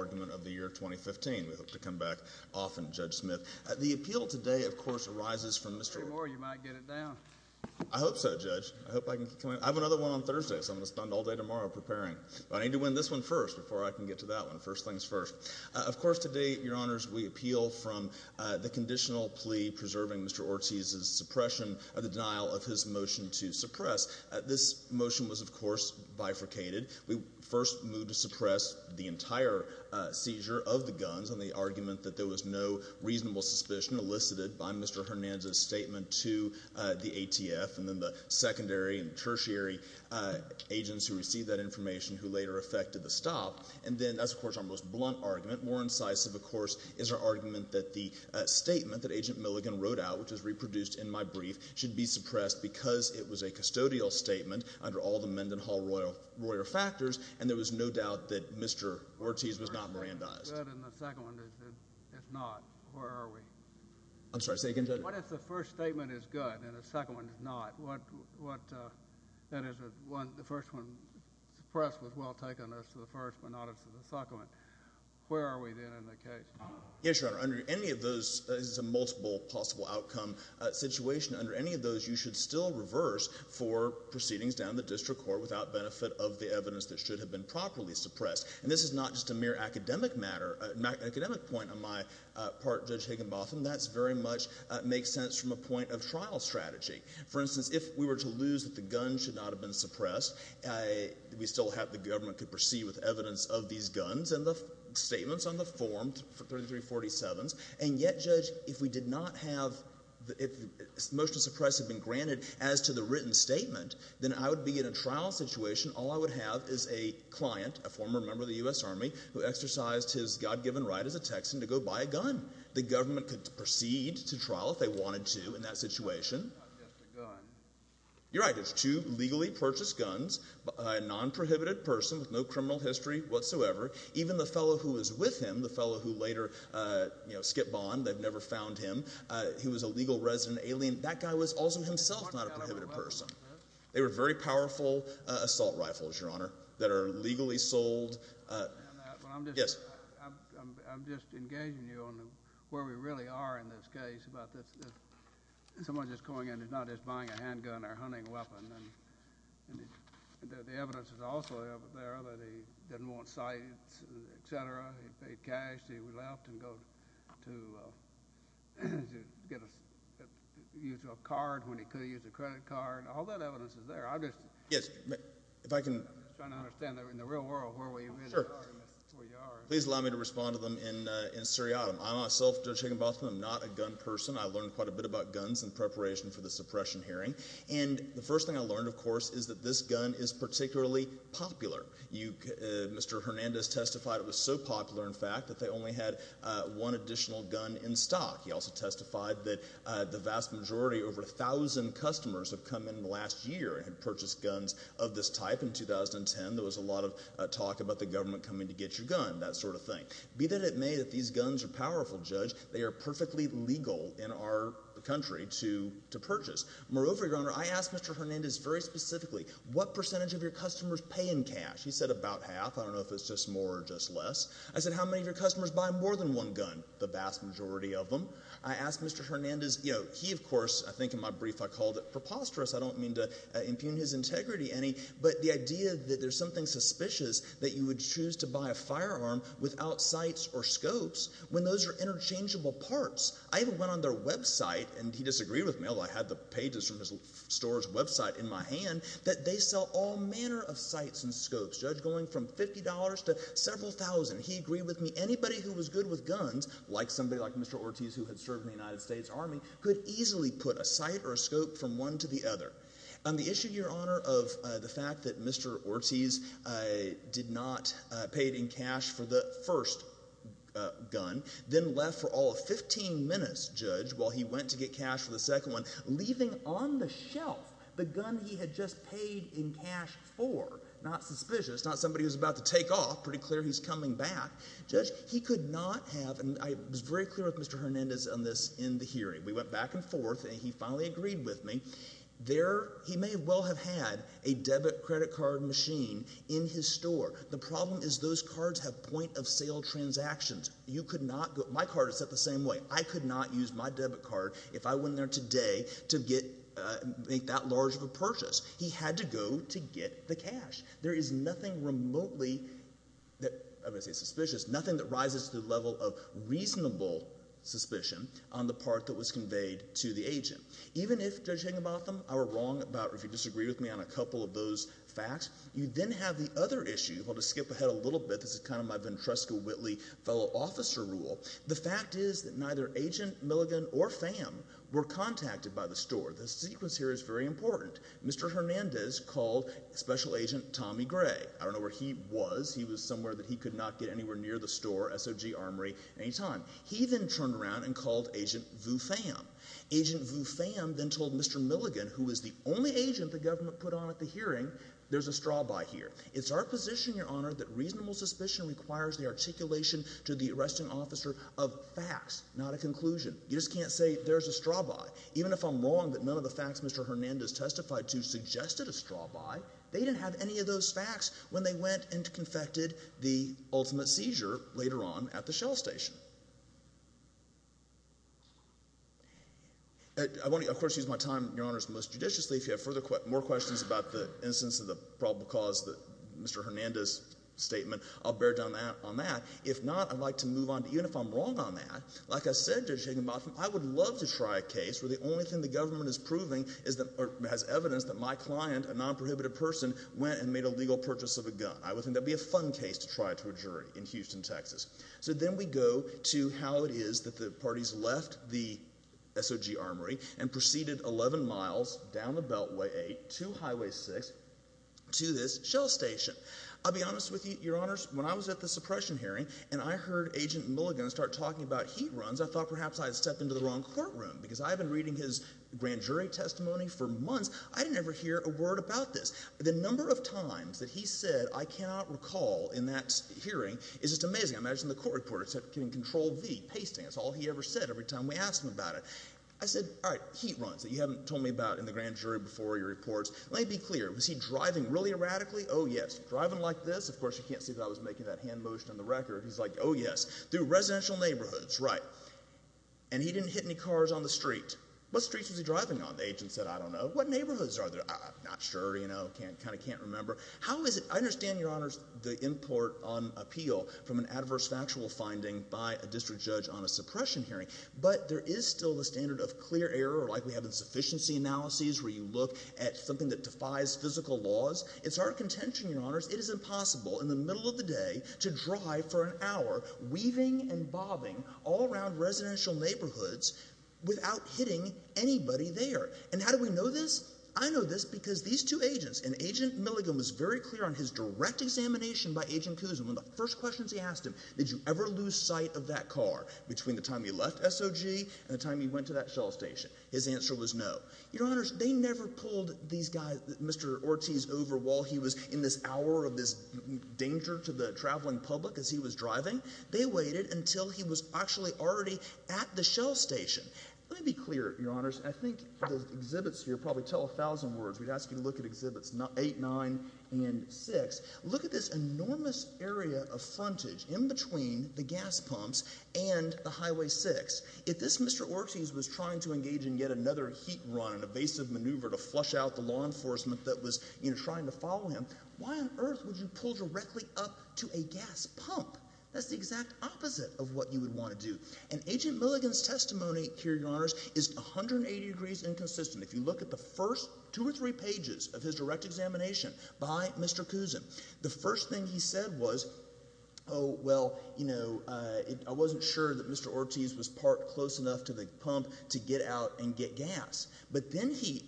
of the year 2015. We hope to come back often, Judge Smith. The appeal today, of course, arises from Mr. Ortiz. I hope so, Judge. I have another one on Thursday, so I'm going to spend all day tomorrow preparing. But I need to win this one first before I can get to that one. First things first. Of course, today, Your Honors, we appeal from the conditional plea preserving Mr. Ortiz's suppression of the denial of his motion to suppress. This motion was, of course, bifurcated. We first moved to suppress the entire seizure of the guns on the argument that there was no reasonable suspicion elicited by Mr. Hernandez's statement to the ATF and then the secondary and tertiary agents who received that information who later effected the stop. And then that's, of course, our most blunt argument. More incisive, of course, is our argument that the statement that Agent Milligan wrote out, which was reproduced in my brief, should be suppressed because it was a custodial statement under all the Mendenhall-Royer factors, and there was no doubt that Mr. Ortiz was not Mirandized. The first statement is good, and the second one is not. Where are we? I'm sorry. Say again, Judge. What if the first statement is good and the second one is not? That is, the first one suppressed was well taken as to the first, but not as to the second. Where are we then in the case? Yes, Your Honor. Under any of those multiple possible outcome situations, under any of those, you should still reverse for proceedings down the district court without benefit of the evidence that should have been properly suppressed. And this is not just a mere academic matter. An academic point on my part, Judge Higginbotham, that very much makes sense from a point of trial strategy. For instance, if we were to lose that the gun should not have been suppressed, we still have the government could proceed with evidence of these guns and the statements on the form, 3347s, and yet, Judge, if we did not have, if the motion to suppress had been granted as to the written statement, then I would be in a trial situation. All I would have is a client, a former member of the U.S. Army, who exercised his God-given right as a Texan to go buy a gun. The government could proceed to trial if they wanted to in that situation. It's not just a gun. You're right. There's two legally purchased guns, a non-prohibited person with no criminal history whatsoever, even the fellow who was with him, the fellow who later skipped bond. They've never found him. He was a legal resident alien. That guy was also himself not a prohibited person. They were very powerful assault rifles, Your Honor, that are legally sold. I'm just engaging you on where we really are in this case about someone just going in and not just buying a handgun or hunting weapon. The evidence is also there that he didn't want sight, et cetera. He paid cash. He left to use a card when he could use a credit card. All that evidence is there. I'm just trying to understand in the real world where we really are in this. Please allow me to respond to them in Siriatim. I myself, Judge Higginbotham, am not a gun person. I learned quite a bit about guns in preparation for the suppression hearing. The first thing I learned, of course, is that this gun is particularly popular. Mr. Hernandez testified it was so popular, in fact, that they only had one additional gun in stock. He also testified that the vast majority, over 1,000 customers, have come in the last year and purchased guns of this type. In 2010, there was a lot of talk about the government coming to get your gun, that sort of thing. Be that it may, that these guns are powerful, Judge. They are perfectly legal in our country to purchase. Moreover, Your Honor, I asked Mr. Hernandez very specifically, what percentage of your customers pay in cash? He said about half. I don't know if it's just more or just less. I said, how many of your customers buy more than one gun? The vast majority of them. I asked Mr. Hernandez. He, of course, I think in my brief I called it preposterous. I don't mean to impugn his integrity any, but the idea that there's something suspicious that you would choose to buy a firearm without sights or scopes when those are interchangeable parts. I even went on their website, and he disagreed with me, although I had the pages from his store's website in my hand, that they sell all manner of sights and scopes. Judge, going from $50 to several thousand, he agreed with me. Anybody who was good with guns, like somebody like Mr. Ortiz who had served in the United States Army, could easily put a sight or a scope from one to the other. On the issue, Your Honor, of the fact that Mr. Ortiz did not pay it in cash for the first gun, then left for all of 15 minutes, Judge, while he went to get cash for the second one, leaving on the shelf the gun he had just paid in cash for, not suspicious, not somebody who's about to take off, pretty clear he's coming back. Judge, he could not have, and I was very clear with Mr. Hernandez on this in the hearing. We went back and forth, and he finally agreed with me. He may well have had a debit credit card machine in his store. The problem is those cards have point-of-sale transactions. My card is set the same way. I could not use my debit card if I went in there today to make that large of a purchase. He had to go to get the cash. There is nothing remotely, I'm going to say suspicious, nothing that rises to the level of reasonable suspicion on the part that was conveyed to the agent. Even if, Judge Higginbotham, I were wrong about or if you disagree with me on a couple of those facts, you then have the other issue. I'll just skip ahead a little bit. This is kind of my Ventresca-Whitley fellow officer rule. The fact is that neither Agent Milligan or Pham were contacted by the store. The sequence here is very important. Mr. Hernandez called Special Agent Tommy Gray. I don't know where he was. He was somewhere that he could not get anywhere near the store, SOG Armory, any time. He then turned around and called Agent Vu Pham. Agent Vu Pham then told Mr. Milligan, who was the only agent that the government put on at the hearing, there's a straw by here. It's our position, Your Honor, that reasonable suspicion requires the articulation to the arresting officer of facts, not a conclusion. You just can't say there's a straw by. Even if I'm wrong that none of the facts Mr. Hernandez testified to suggested a straw by, they didn't have any of those facts when they went and confected the ultimate seizure later on at the Shell Station. I want to, of course, use my time, Your Honors, most judiciously. If you have more questions about the instance of the probable cause of Mr. Hernandez' statement, I'll bear down on that. If not, I'd like to move on. Even if I'm wrong on that, like I said to Agent Mothman, I would love to try a case where the only thing the government is proving has evidence that my client, a non-prohibited person, went and made a legal purchase of a gun. I would think that would be a fun case to try to a jury in Houston, Texas. So then we go to how it is that the parties left the SOG armory and proceeded 11 miles down the Beltway 8 to Highway 6 to this Shell Station. I'll be honest with you, Your Honors, when I was at the suppression hearing and I heard Agent Mulligan start talking about heat runs, I thought perhaps I had stepped into the wrong courtroom because I had been reading his grand jury testimony for months. I didn't ever hear a word about this. The court reporter said control V, pasting. That's all he ever said every time we asked him about it. I said, all right, heat runs that you haven't told me about in the grand jury before your reports. Let me be clear. Was he driving really erratically? Oh, yes. Driving like this? Of course, you can't see that I was making that hand motion on the record. He's like, oh, yes. Through residential neighborhoods, right. And he didn't hit any cars on the street. What streets was he driving on? The agent said, I don't know. What neighborhoods are there? I'm not sure, you know, kind of can't remember. How is it, I know it's a controversial finding by a district judge on a suppression hearing but there is still the standard of clear error like we have in sufficiency analyses where you look at something that defies physical laws. It's our contention, your honors, it is impossible in the middle of the day to drive for an hour weaving and bobbing all around residential neighborhoods without hitting anybody there. And how do we know this? I know this because these two agents and Agent Mulligan was very clear on his direct examination by Agent Cousin. One of the first questions he asked him, did you ever lose sight of that car between the time he left SOG and the time he went to that shell station? His answer was no. Your honors, they never pulled these guys, Mr. Ortiz over while he was in this hour of this danger to the traveling public as he was driving. They waited until he was actually already at the shell station. Let me be clear, your honors. I think the exhibits here probably tell a thousand words. We'd ask you to look at exhibits eight, nine and six. Look at this enormous area of frontage in between the gas pumps and the highway six. If this Mr. Ortiz was trying to engage in yet another heat run, an evasive maneuver to flush out the law enforcement that was, you know, trying to follow him, why on earth would you pull directly up to a gas pump? That's the exact opposite of what you would want to do. And Agent Mulligan's testimony here, your honors, is 180 degrees inconsistent. If you look at the first two or three pages of his direct examination by Mr. Cousin, the first thing he said was, oh, well, you know, I wasn't sure that Mr. Ortiz was parked close enough to the pump to get out and get gas. But then he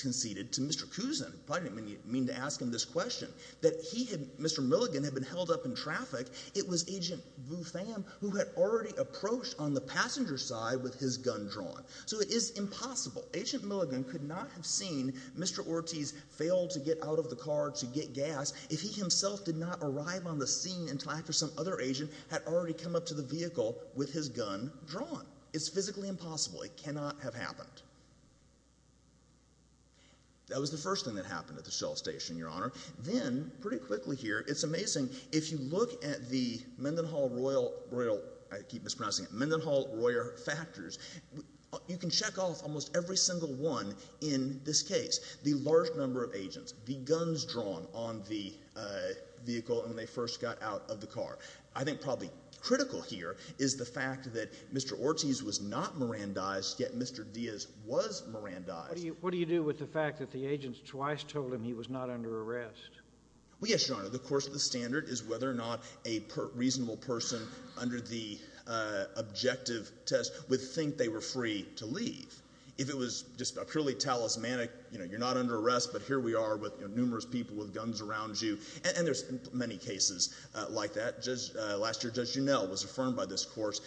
conceded to Mr. Cousin, probably didn't mean to ask him this question, that he had, Mr. Mulligan had been held up in traffic. It was Agent Vu Pham who had already approached on the passenger side with his gun drawn. So it is impossible. Agent Mulligan could not have seen Mr. Ortiz fail to get out of the car to get gas if he himself did not arrive on the scene in time for some other agent had already come up to the vehicle with his gun drawn. It's physically impossible. It cannot have happened. That was the first thing that happened at the Shell Station, your honor. Then, pretty quickly here, it's amazing, if you look at the Mendenhall-Royer factors, you can check off almost every single one in this case, the large number of agents, the guns drawn on the vehicle when they first got out of the car. I think probably critical here is the fact that Mr. Ortiz was not Mirandized, yet Mr. Diaz was Mirandized. What do you do with the fact that the agents twice told him he was not under arrest? Well, yes, your honor. The course of the standard is whether or not a reasonable person under the objective test would think they were free to leave. If it was just a purely talismanic, you know, you're not under arrest, but here we are with numerous people with guns around you, and there's many cases like that. Just last year, Judge Juneau was affirmed by this course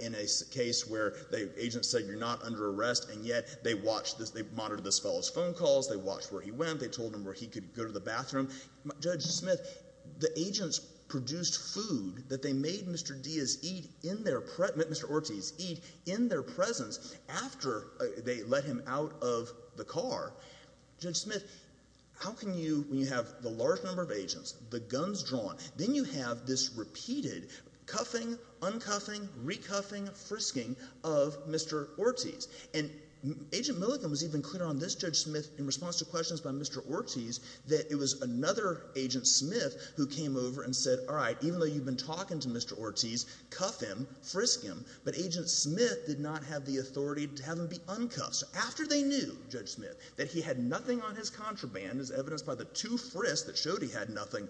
in a case where the agent said you're not under arrest, and yet they monitored this fellow's phone calls, they watched where he went, they told him where he could go to the bathroom. Judge Smith, the agents produced food that they made Mr. Ortiz eat in their presence after they let him out of the car. Judge Smith, how can you, when you have the large number of agents, the guns drawn, then you have this repeated cuffing, uncuffing, recuffing, frisking of Mr. Ortiz? And Agent Milligan was even clear on this, Judge Smith, in response to questions by Mr. Ortiz, cuff him, frisk him, but Agent Smith did not have the authority to have him be uncuffed. So after they knew, Judge Smith, that he had nothing on his contraband, as evidenced by the two frisks that showed he had nothing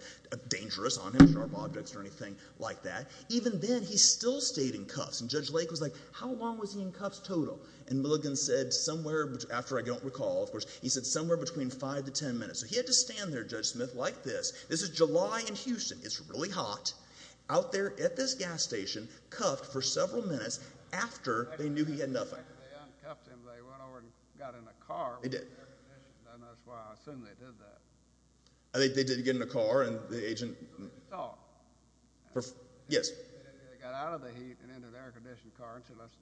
dangerous on him, sharp objects or anything like that, even then he still stayed in cuffs. And Judge Lake was like, how long was he in cuffs total? And Milligan said somewhere, after I don't recall, of course, he said somewhere between five to ten minutes. So he had to stand there, Judge Smith, like this. This is July in Houston. It's really hot. Out there at this gas station, cuffed for several minutes after they knew he had nothing. After they uncuffed him, they went over and got in a car. They did. And that's why I assume they did that. They did get in a car and the agent... They saw him. Yes. They got out of the heat and into an air-conditioned car and said, let's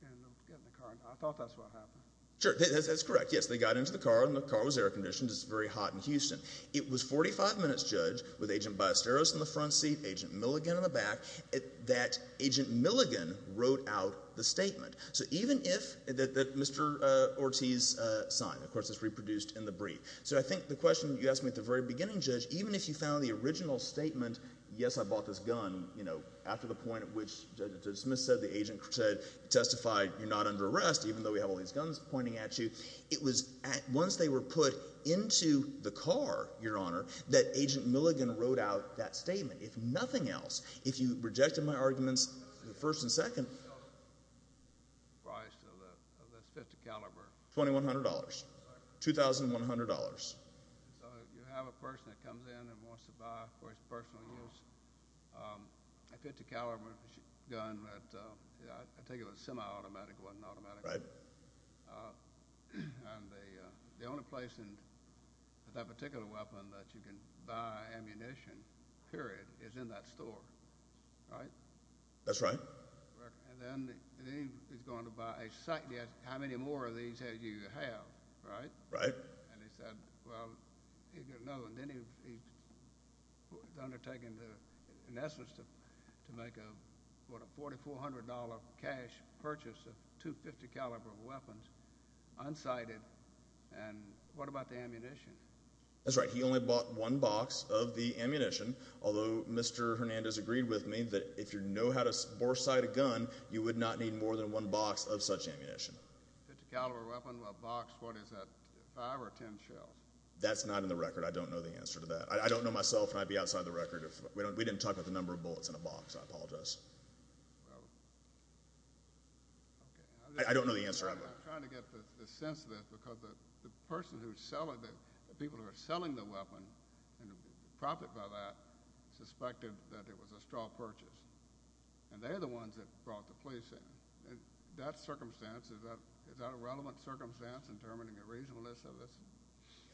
get in the car. I thought that's what happened. Sure, that's correct. Yes, they got into the car and the car was air-conditioned. It's very hot in Houston. It was a 45-minute judge with Agent Biasteros in the front seat, Agent Milligan in the back, that Agent Milligan wrote out the statement that Mr. Ortiz signed. Of course, it's reproduced in the brief. So I think the question you asked me at the very beginning, Judge, even if you found the original statement, yes, I bought this gun, after the point at which Judge Smith said the agent testified, you're not under arrest, even though we have all these guns pointing at you, it was once they were put into the car, Your Honor, that Agent Milligan wrote out that statement. If nothing else, if you rejected my arguments in the first and second... The price of this .50 caliber. $2,100. So you have a person that comes in and wants to buy for his personal use. A .50 caliber gun, I think it was a semi-automatic, wasn't automatic. Right. And the only place in that particular weapon that you can buy ammunition, period, is in that store, right? That's right. And then he's going to buy a sight. How many more of these do you have, right? Right. And he said, well, no, and then he's undertaken, in essence, to make a $4,400 cash purchase of two .50 caliber weapons, unsighted. And what about the ammunition? That's right. He only bought one box of the ammunition, although Mr. Hernandez agreed with me that if you know how to boresight a gun, you would not need more than one box of such ammunition. A .50 caliber weapon, a box, what is that, five or ten shells? That's not in the record. I don't know the answer to that. I don't know myself, and I'd be outside the record if we didn't talk about the number of bullets in a box. I apologize. I don't know the answer either. I'm trying to get the sense of this, because the person who's selling it, the people who are selling the weapon and the profit by that, suspected that it was a straw purchase. And they're the ones that brought the police in. That circumstance, is that a relevant circumstance in determining the reasonableness of this?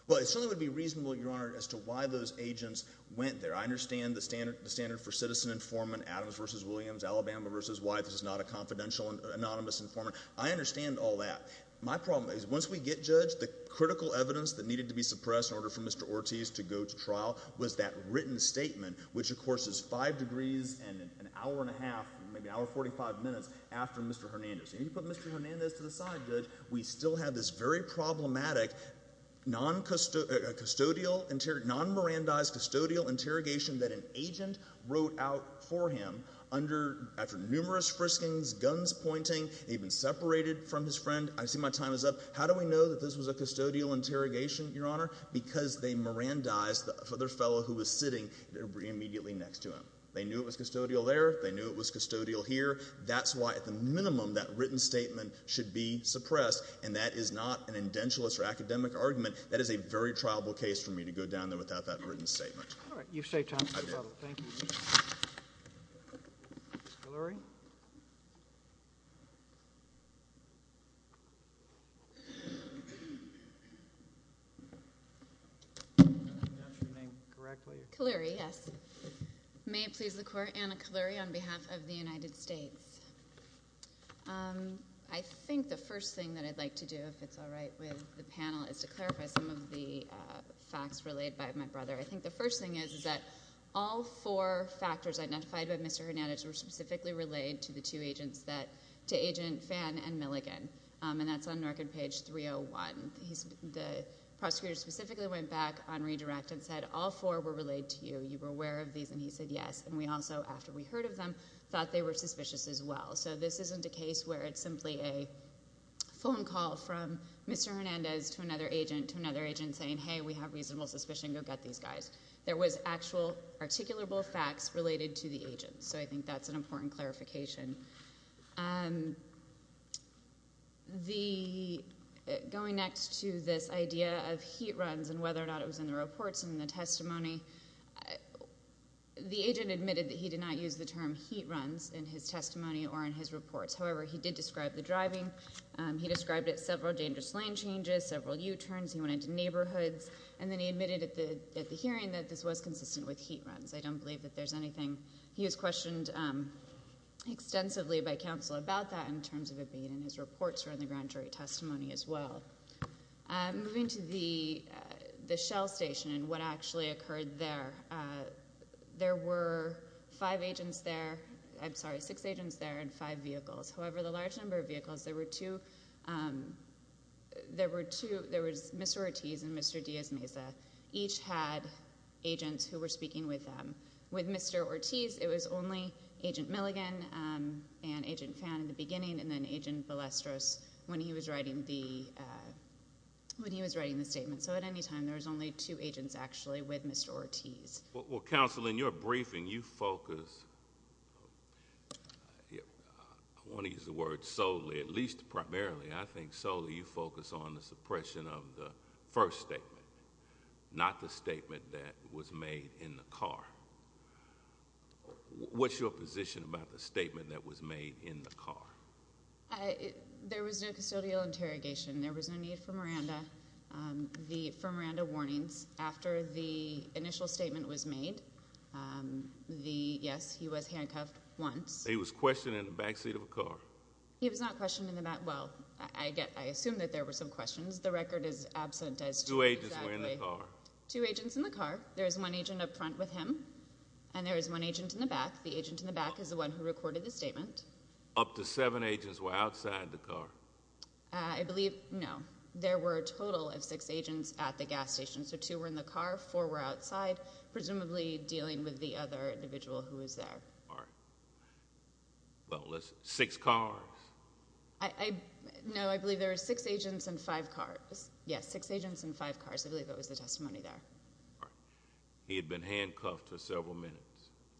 Well, it certainly would be reasonable, Your Honor, as to why those agents went there. I understand the standard for citizen informant, Adams v. Williams, Alabama v. White. This is not a confidential anonymous informant. I understand all that. My problem is once we get judged, the critical evidence that needed to be suppressed in order for Mr. Ortiz to go to trial was that written statement, which, of course, is 5 degrees and an hour and a half, maybe an hour and 45 minutes, after Mr. Hernandez. And you put Mr. Hernandez to the side, Judge, we still have this very problematic, non-merandized custodial interrogation that an agent wrote out for him after numerous friskings, guns pointing, even separated from his friend. I see my time is up. How do we know that this was a custodial interrogation, Your Honor? Because they merandized the other fellow who was sitting immediately next to him. They knew it was custodial there. They knew it was custodial here. That's why, at the minimum, that written statement should be suppressed, and that is not an indentualist or academic argument. That is a very triable case for me to go down there without that written statement. All right. You've saved time, Mr. Butler. Thank you. Thank you. Kaluri? Kaluri, yes. May it please the Court, Anna Kaluri on behalf of the United States. I think the first thing that I'd like to do, if it's all right with the panel, is to clarify some of the facts relayed by my brother. I think the first thing is that all four factors identified by Mr. Hernandez were specifically relayed to the two agents, to Agent Phan and Milligan, and that's on record page 301. The prosecutor specifically went back on redirect and said all four were relayed to you. You were aware of these, and he said yes. And we also, after we heard of them, thought they were suspicious as well. So this isn't a case where it's simply a phone call from Mr. Hernandez to another agent, saying, hey, we have reasonable suspicion, go get these guys. There was actual articulable facts related to the agents, so I think that's an important clarification. Going next to this idea of heat runs and whether or not it was in the reports and in the testimony, the agent admitted that he did not use the term heat runs in his testimony or in his reports. However, he did describe the driving. He described it as several dangerous lane changes, several U-turns. He went into neighborhoods, and then he admitted at the hearing that this was consistent with heat runs. I don't believe that there's anything. He was questioned extensively by counsel about that in terms of it being in his reports or in the grand jury testimony as well. Moving to the Shell station and what actually occurred there, there were five agents there, I'm sorry, six agents there and five vehicles. However, the large number of vehicles, there were two. There was Mr. Ortiz and Mr. Diaz-Meza. Each had agents who were speaking with them. With Mr. Ortiz, it was only Agent Milligan and Agent Phan in the beginning and then Agent Balestros when he was writing the statement. So at any time, there was only two agents actually with Mr. Ortiz. Well, counsel, in your briefing, you focus, I want to use the word solely, at least primarily, I think solely you focus on the suppression of the first statement, not the statement that was made in the car. What's your position about the statement that was made in the car? There was no custodial interrogation. There was no need for Miranda warnings. After the initial statement was made, yes, he was handcuffed once. He was questioned in the back seat of a car. He was not questioned in the back. Well, I assume that there were some questions. The record is absent as to exactly. Two agents were in the car. Two agents in the car. There was one agent up front with him and there was one agent in the back. The agent in the back is the one who recorded the statement. Up to seven agents were outside the car. I believe, no, there were a total of six agents at the gas station, so two were in the car, four were outside, presumably dealing with the other individual who was there. All right. Well, six cars? No, I believe there were six agents and five cars. Yes, six agents and five cars. I believe that was the testimony there. All right. He had been handcuffed for several minutes.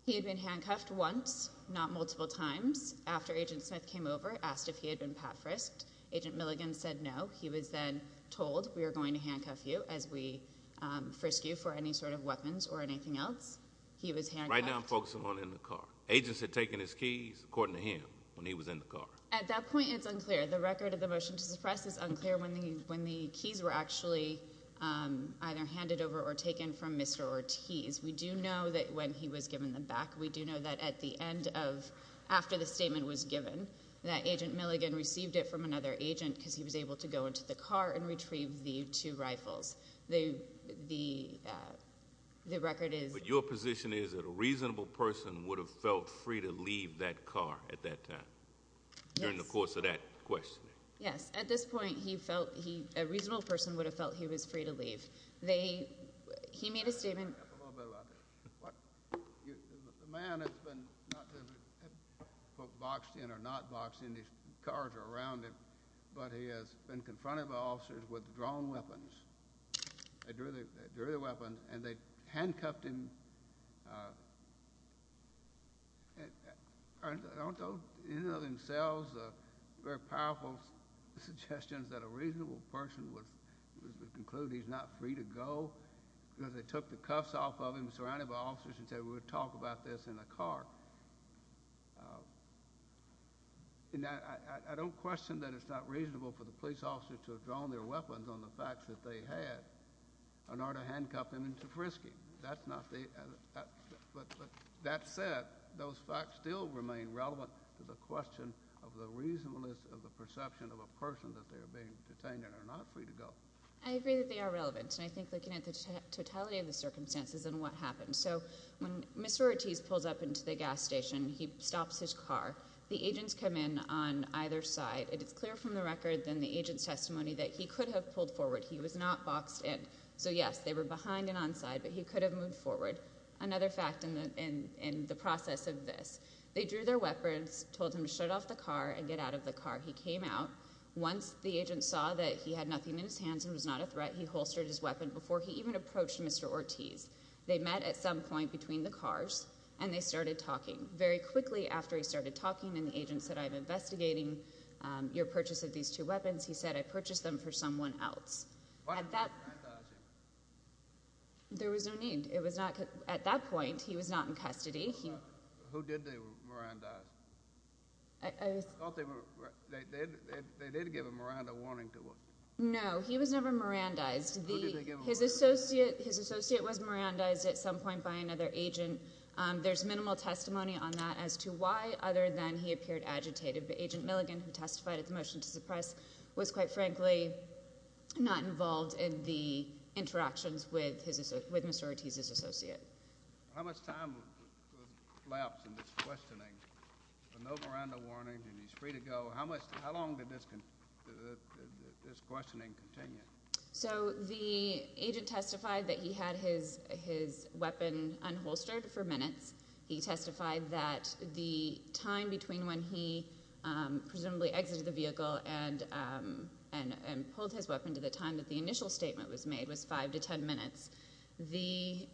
He had been handcuffed once, not multiple times. After Agent Smith came over, asked if he had been pat frisked, Agent Milligan said no. He was then told we are going to handcuff you as we frisk you for any sort of weapons or anything else. He was handcuffed. Right now I'm focusing on in the car. Agents had taken his keys, according to him, when he was in the car. At that point it's unclear. The record of the motion to suppress is unclear when the keys were actually either handed over or taken from Mr. Ortiz. We do know that when he was given them back, we do know that at the end of after the statement was given, that Agent Milligan received it from another agent because he was able to go into the car and retrieve the two rifles. The record is. But your position is that a reasonable person would have felt free to leave that car at that time? Yes. During the course of that questioning. Yes. At this point a reasonable person would have felt he was free to leave. He made a statement. A little bit about that. The man has been not just boxed in or not boxed in. These cars are around him. But he has been confronted by officers with drawn weapons. They drew their weapons and they handcuffed him. I don't know. These are themselves very powerful suggestions that a reasonable person would conclude he's not free to go because they took the cuffs off of him, surrounded by officers, and said we're going to talk about this in the car. I don't question that it's not reasonable for the police officer to have drawn their weapons on the facts that they had in order to handcuff him into frisking. But that said, those facts still remain relevant to the question of the reasonableness of the I think looking at the totality of the circumstances and what happened. So when Mr. Ortiz pulls up into the gas station, he stops his car. The agents come in on either side. It is clear from the record and the agent's testimony that he could have pulled forward. He was not boxed in. So, yes, they were behind and on side, but he could have moved forward. Another fact in the process of this, they drew their weapons, told him to shut off the car and get out of the car. He came out. Once the agent saw that he had nothing in his hands and was not a threat, he holstered his weapon before he even approached Mr. Ortiz. They met at some point between the cars, and they started talking. Very quickly after he started talking and the agent said, I'm investigating your purchase of these two weapons. He said, I purchased them for someone else. There was no need. It was not at that point. He was not in custody. Who did they? I thought they were. They did. They did give him around a warning. No, he was never Miranda eyes. His associate, his associate was Miranda eyes at some point by another agent. There's minimal testimony on that as to why, other than he appeared agitated, but agent Milligan, who testified at the motion to suppress was quite frankly, not involved in the interactions with his, with Mr. Ortiz's associate. How much time lapsed in this questioning? No Miranda warning and he's free to go. How much, how long did this, this questioning continue? So the agent testified that he had his, his weapon unholstered for minutes. He testified that the time between when he presumably exited the vehicle and, and, and pulled his weapon to the time that the initial statement was made was five to 10 minutes. The,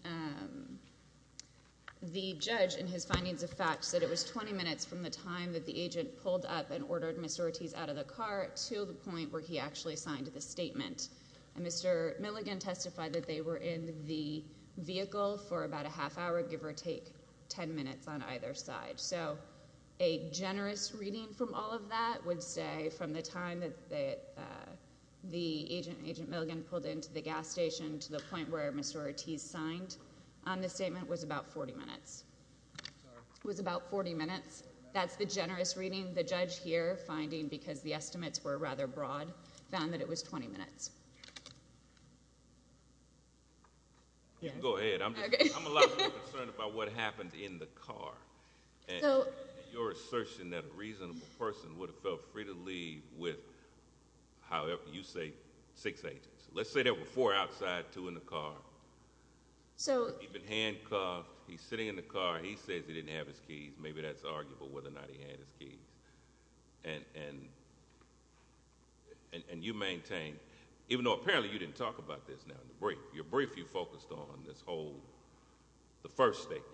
the judge and his findings of facts that it was 20 minutes from the time that the agent pulled up and ordered Mr. Ortiz out of the car to the point where he actually signed the statement. And Mr. Milligan testified that they were in the vehicle for about a half hour, give or take 10 minutes on either side. So a generous reading from all of that would say from the time that they, the agent, agent Milligan pulled into the gas station to the point where Mr. Ortiz signed on the statement was about 40 minutes. It was about 40 minutes. That's the generous reading. The judge here finding because the estimates were rather broad found that it was 20 minutes. Yeah, go ahead. I'm a lot more concerned about what happened in the car. So your assertion that a reasonable person would have felt free to leave with, however you say six agents, let's say there were four outside, two in the car. So he'd been handcuffed. He's sitting in the car. He says he didn't have his keys. Maybe that's arguable whether or not he had his keys and, and, and you maintain, even though apparently you didn't talk about this now in the break, your brief, you focused on this whole, the first statement.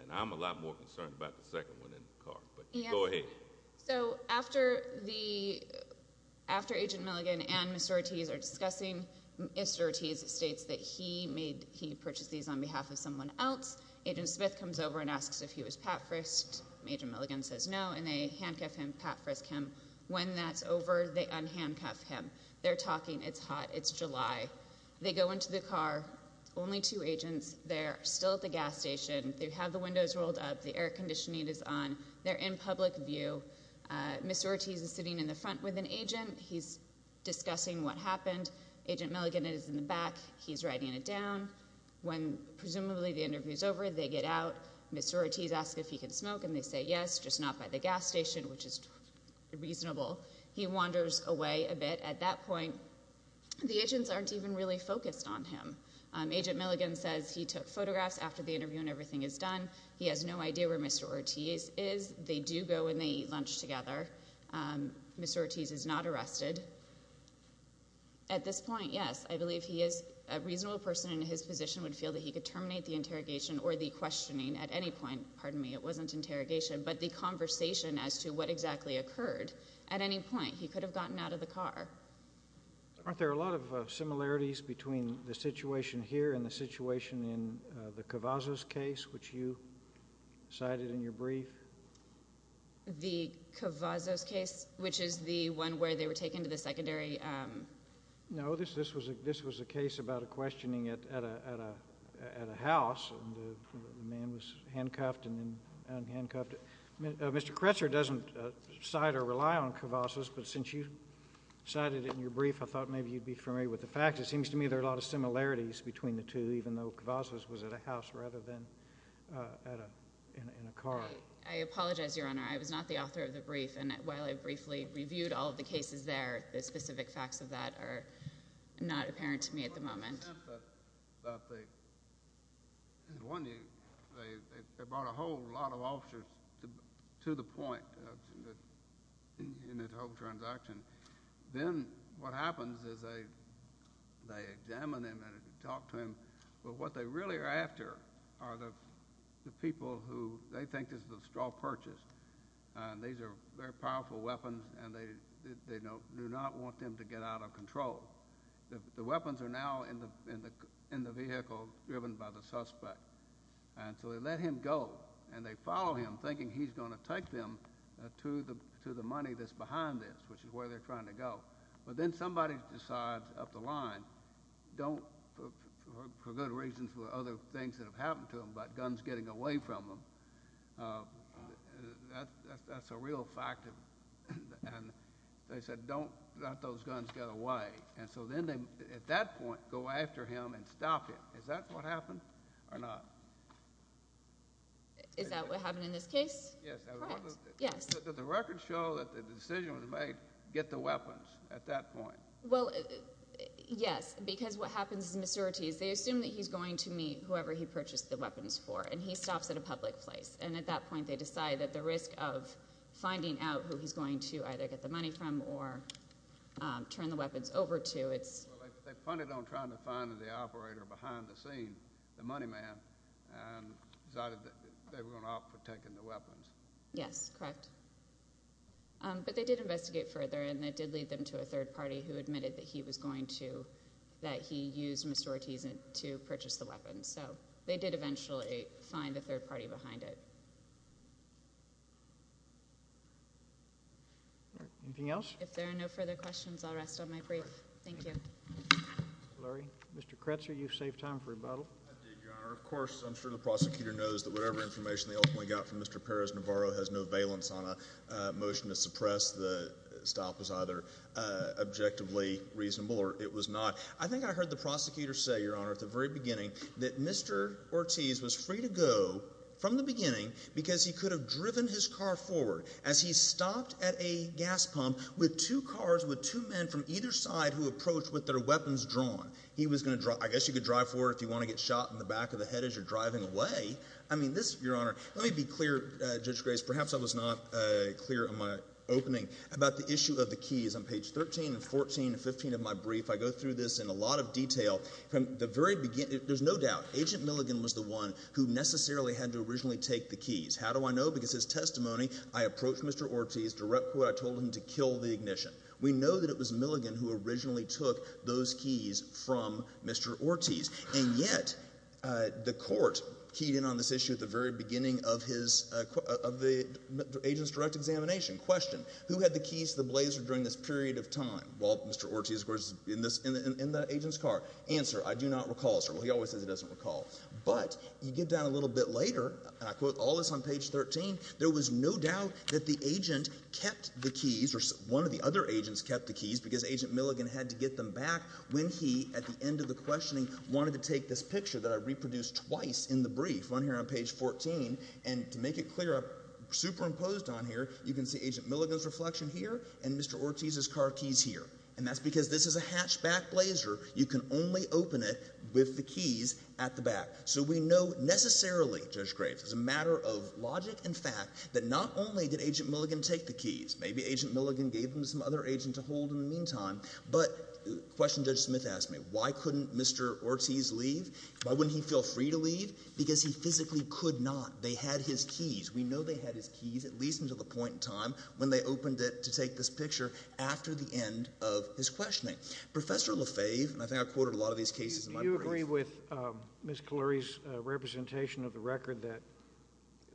And I'm a lot more concerned about the second one in the car, but go ahead. So after the, after agent Milligan and Mr. Ortiz are discussing Mr. Ortiz states that he made, he purchased these on behalf of someone else. Agent Smith comes over and asks if he was Pat Frist. Major Milligan says no. And they handcuff him, Pat Frist Kim. When that's over, they unhandcuff him. They're talking. It's hot. It's July. They go into the car. Only two agents. They're still at the gas station. They have the windows rolled up. The air conditioning is on. They're in public view. Mr. Ortiz is sitting in the front with an agent. He's discussing what happened. Agent Milligan is in the back. He's writing it down. When presumably the interview is over, they get out. Mr. Ortiz asked if he could smoke and they say yes, just not by the gas station, which is reasonable. He wanders away a bit at that point. The agents aren't even really focused on him. Agent Milligan says he took photographs after the interview and everything is done. He has no idea where Mr. Ortiz is. They do go and they eat lunch together. Mr. Ortiz is not arrested. At this point, yes, I believe he is a reasonable person and his position would feel that he could terminate the interrogation or the questioning at any point. Pardon me. It wasn't interrogation, but the conversation as to what exactly occurred at any point, he could have gotten out of the car. Aren't there a lot of similarities between the situation here and the Kavazos case, which you cited in your brief? The Kavazos case, which is the one where they were taken to the secondary. No, this was a case about a questioning at a house and the man was handcuffed and then unhandcuffed. Mr. Kretzer doesn't cite or rely on Kavazos, but since you cited it in your brief, I thought maybe you'd be familiar with the fact. It seems to me there are a lot of similarities between the two, even though Kavazos was at a house rather than in a car. I apologize, Your Honor. I was not the author of the brief and while I briefly reviewed all of the cases there, the specific facts of that are not apparent to me at the moment. They brought a whole lot of officers to the point in that whole transaction. Then what happens is they examine him and talk to him, but what they really are after are the people who they think is the straw purchase. These are very powerful weapons and they do not want them to get out of control. The weapons are now in the vehicle driven by the suspect. So they let him go and they follow him, thinking he's going to take them to the money that's behind this, which is where they're trying to go. But then somebody decides up the line, don't for good reasons for other things that have happened to him, but guns getting away from him. That's a real fact. They said don't let those guns get away. So then at that point go after him and stop him. Is that what happened or not? Is that what happened in this case? Yes. Does the record show that the decision was made, get the weapons at that point? Well, yes, because what happens is they assume that he's going to meet whoever he purchased the weapons for and he stops at a public place. At that point they decide that the risk of finding out who he's going to either get the money from or turn the weapons over to. They punted on trying to find the operator behind the scene, the money man, and decided that they were going to opt for taking the weapons. Yes, correct. But they did investigate further and it did lead them to a third party who admitted that he was going to, that he used Mr. Ortiz to purchase the weapons. So they did eventually find the third party behind it. Anything else? If there are no further questions, I'll rest on my brief. Thank you. Mr. Lurie. Mr. Kretzer, you saved time for rebuttal. I did, Your Honor. Of course, I'm sure the prosecutor knows that whatever information they ultimately got from Mr. Perez-Navarro has no valence on a motion to suppress. The stop was either objectively reasonable or it was not. I think I heard the prosecutor say, Your Honor, at the very beginning that Mr. Ortiz was free to go from the beginning because he could have driven his car forward as he stopped at a gas pump with two cars with two men from either side who approached with their weapons drawn. I guess you could drive forward if you want to get shot in the back of the head as you're driving away. I mean, this, Your Honor, let me be clear, Judge Grace, perhaps I was not clear in my opening about the issue of the keys. On page 13 and 14 and 15 of my brief, I go through this in a lot of detail. From the very beginning, there's no doubt, Agent Milligan was the one who necessarily had to originally take the keys. How do I know? Because his testimony, I approached Mr. Ortiz, direct quote, I told him to kill the ignition. We know that it was Milligan who originally took those keys from Mr. Ortiz, and yet the court keyed in on this issue at the very beginning of the agent's direct examination. Question, who had the keys to the blazer during this period of time? Well, Mr. Ortiz, of course, in the agent's car. Answer, I do not recall, sir. Well, he always says he doesn't recall. But you get down a little bit later, and I quote all this on page 13, there was no doubt that the agent kept the keys or one of the other agents kept the keys because Agent Milligan had to get them back when he, at the end of the questioning, wanted to take this picture that I reproduced twice in the brief, one here on page 14. And to make it clear, superimposed on here, you can see Agent Milligan's reflection here and Mr. Ortiz's car keys here. And that's because this is a hatchback blazer. You can only open it with the keys at the back. So we know necessarily, Judge Graves, as a matter of logic and fact, that not only did Agent Milligan take the keys, maybe Agent Milligan gave them to some other agent to hold in the meantime, but the question Judge Smith asked me, why couldn't Mr. Ortiz leave? Why wouldn't he feel free to leave? Because he physically could not. They had his keys. We know they had his keys, at least until the point in time when they opened it to take this picture after the end of his questioning. Professor LaFave, and I think I quoted a lot of these cases in my brief. I wouldn't agree with Ms. Cullery's representation of the record that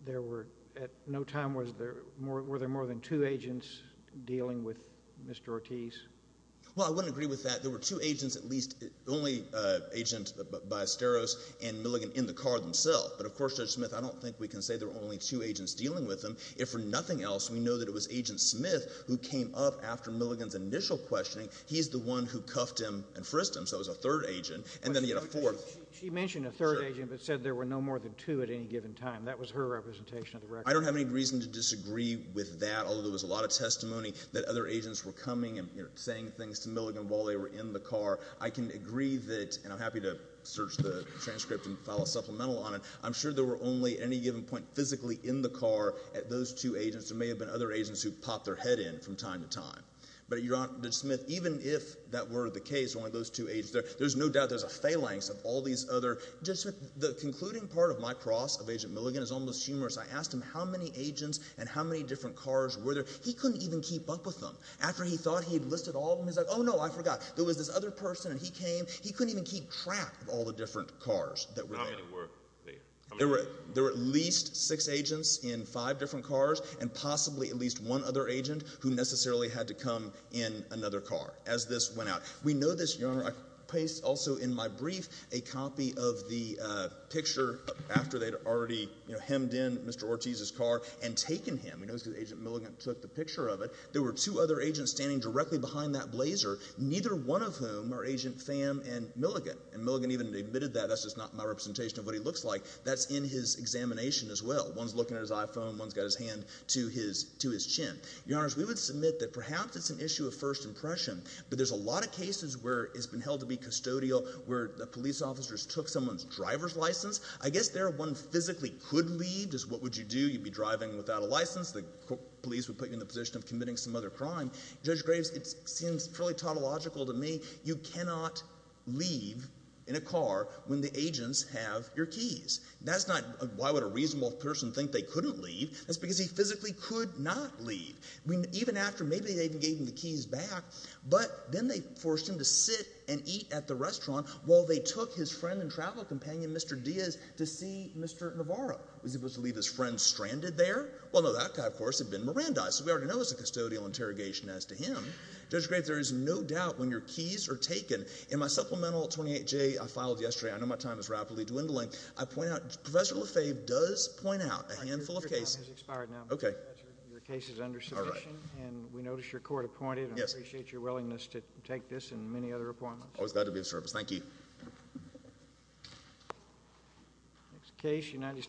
there were at no time, were there more than two agents dealing with Mr. Ortiz? Well, I wouldn't agree with that. There were two agents at least, the only agent by Asteros and Milligan in the car themselves. But, of course, Judge Smith, I don't think we can say there were only two agents dealing with him. If for nothing else, we know that it was Agent Smith who came up after Milligan's initial questioning. He's the one who cuffed him and frisked him, so it was a third agent. And then he had a fourth. She mentioned a third agent, but said there were no more than two at any given time. That was her representation of the record. I don't have any reason to disagree with that, although there was a lot of testimony that other agents were coming and saying things to Milligan while they were in the car. I can agree that, and I'm happy to search the transcript and file a supplemental on it, I'm sure there were only, at any given point, physically in the car at those two agents. There may have been other agents who popped their head in from time to time. But, Judge Smith, even if that were the case, there's no doubt there's a phalanx of all these other... Judge Smith, the concluding part of my cross of Agent Milligan is almost humorous. I asked him how many agents and how many different cars were there. He couldn't even keep up with them. After he thought he'd listed all of them, he's like, Oh, no, I forgot. There was this other person, and he came. He couldn't even keep track of all the different cars that were there. How many were there? There were at least six agents in five different cars and possibly at least one other agent who necessarily had to come in another car as this went out. We know this, Your Honor. I placed also in my brief a copy of the picture after they'd already hemmed in Mr. Ortiz's car and taken him. We know this because Agent Milligan took the picture of it. There were two other agents standing directly behind that blazer, neither one of whom are Agent Pham and Milligan. And Milligan even admitted that. That's just not my representation of what he looks like. That's in his examination as well. One's looking at his iPhone. One's got his hand to his chin. Your Honors, we would submit that perhaps it's an issue of first impression, but there's a lot of cases where it's been held to be custodial where the police officers took someone's driver's license. I guess there one physically could leave. Just what would you do? You'd be driving without a license. The police would put you in the position of committing some other crime. Judge Graves, it seems fairly tautological to me. You cannot leave in a car when the agents have your keys. That's not why would a reasonable person think they couldn't leave. That's because he physically could not leave. Even after maybe they gave him the keys back, but then they forced him to sit and eat at the restaurant while they took his friend and travel companion, Mr. Diaz, to see Mr. Navarro. Was he supposed to leave his friend stranded there? Well, no, that guy, of course, had been Mirandized, so we already know it was a custodial interrogation as to him. Judge Graves, there is no doubt when your keys are taken, in my supplemental 28J I filed yesterday, I know my time is rapidly dwindling, I point out Professor Lefebvre does point out a handful of cases. Your time has expired now. Okay. Your case is under submission, and we notice your court appointed. I appreciate your willingness to take this and many other appointments. Always glad to be of service. Thank you.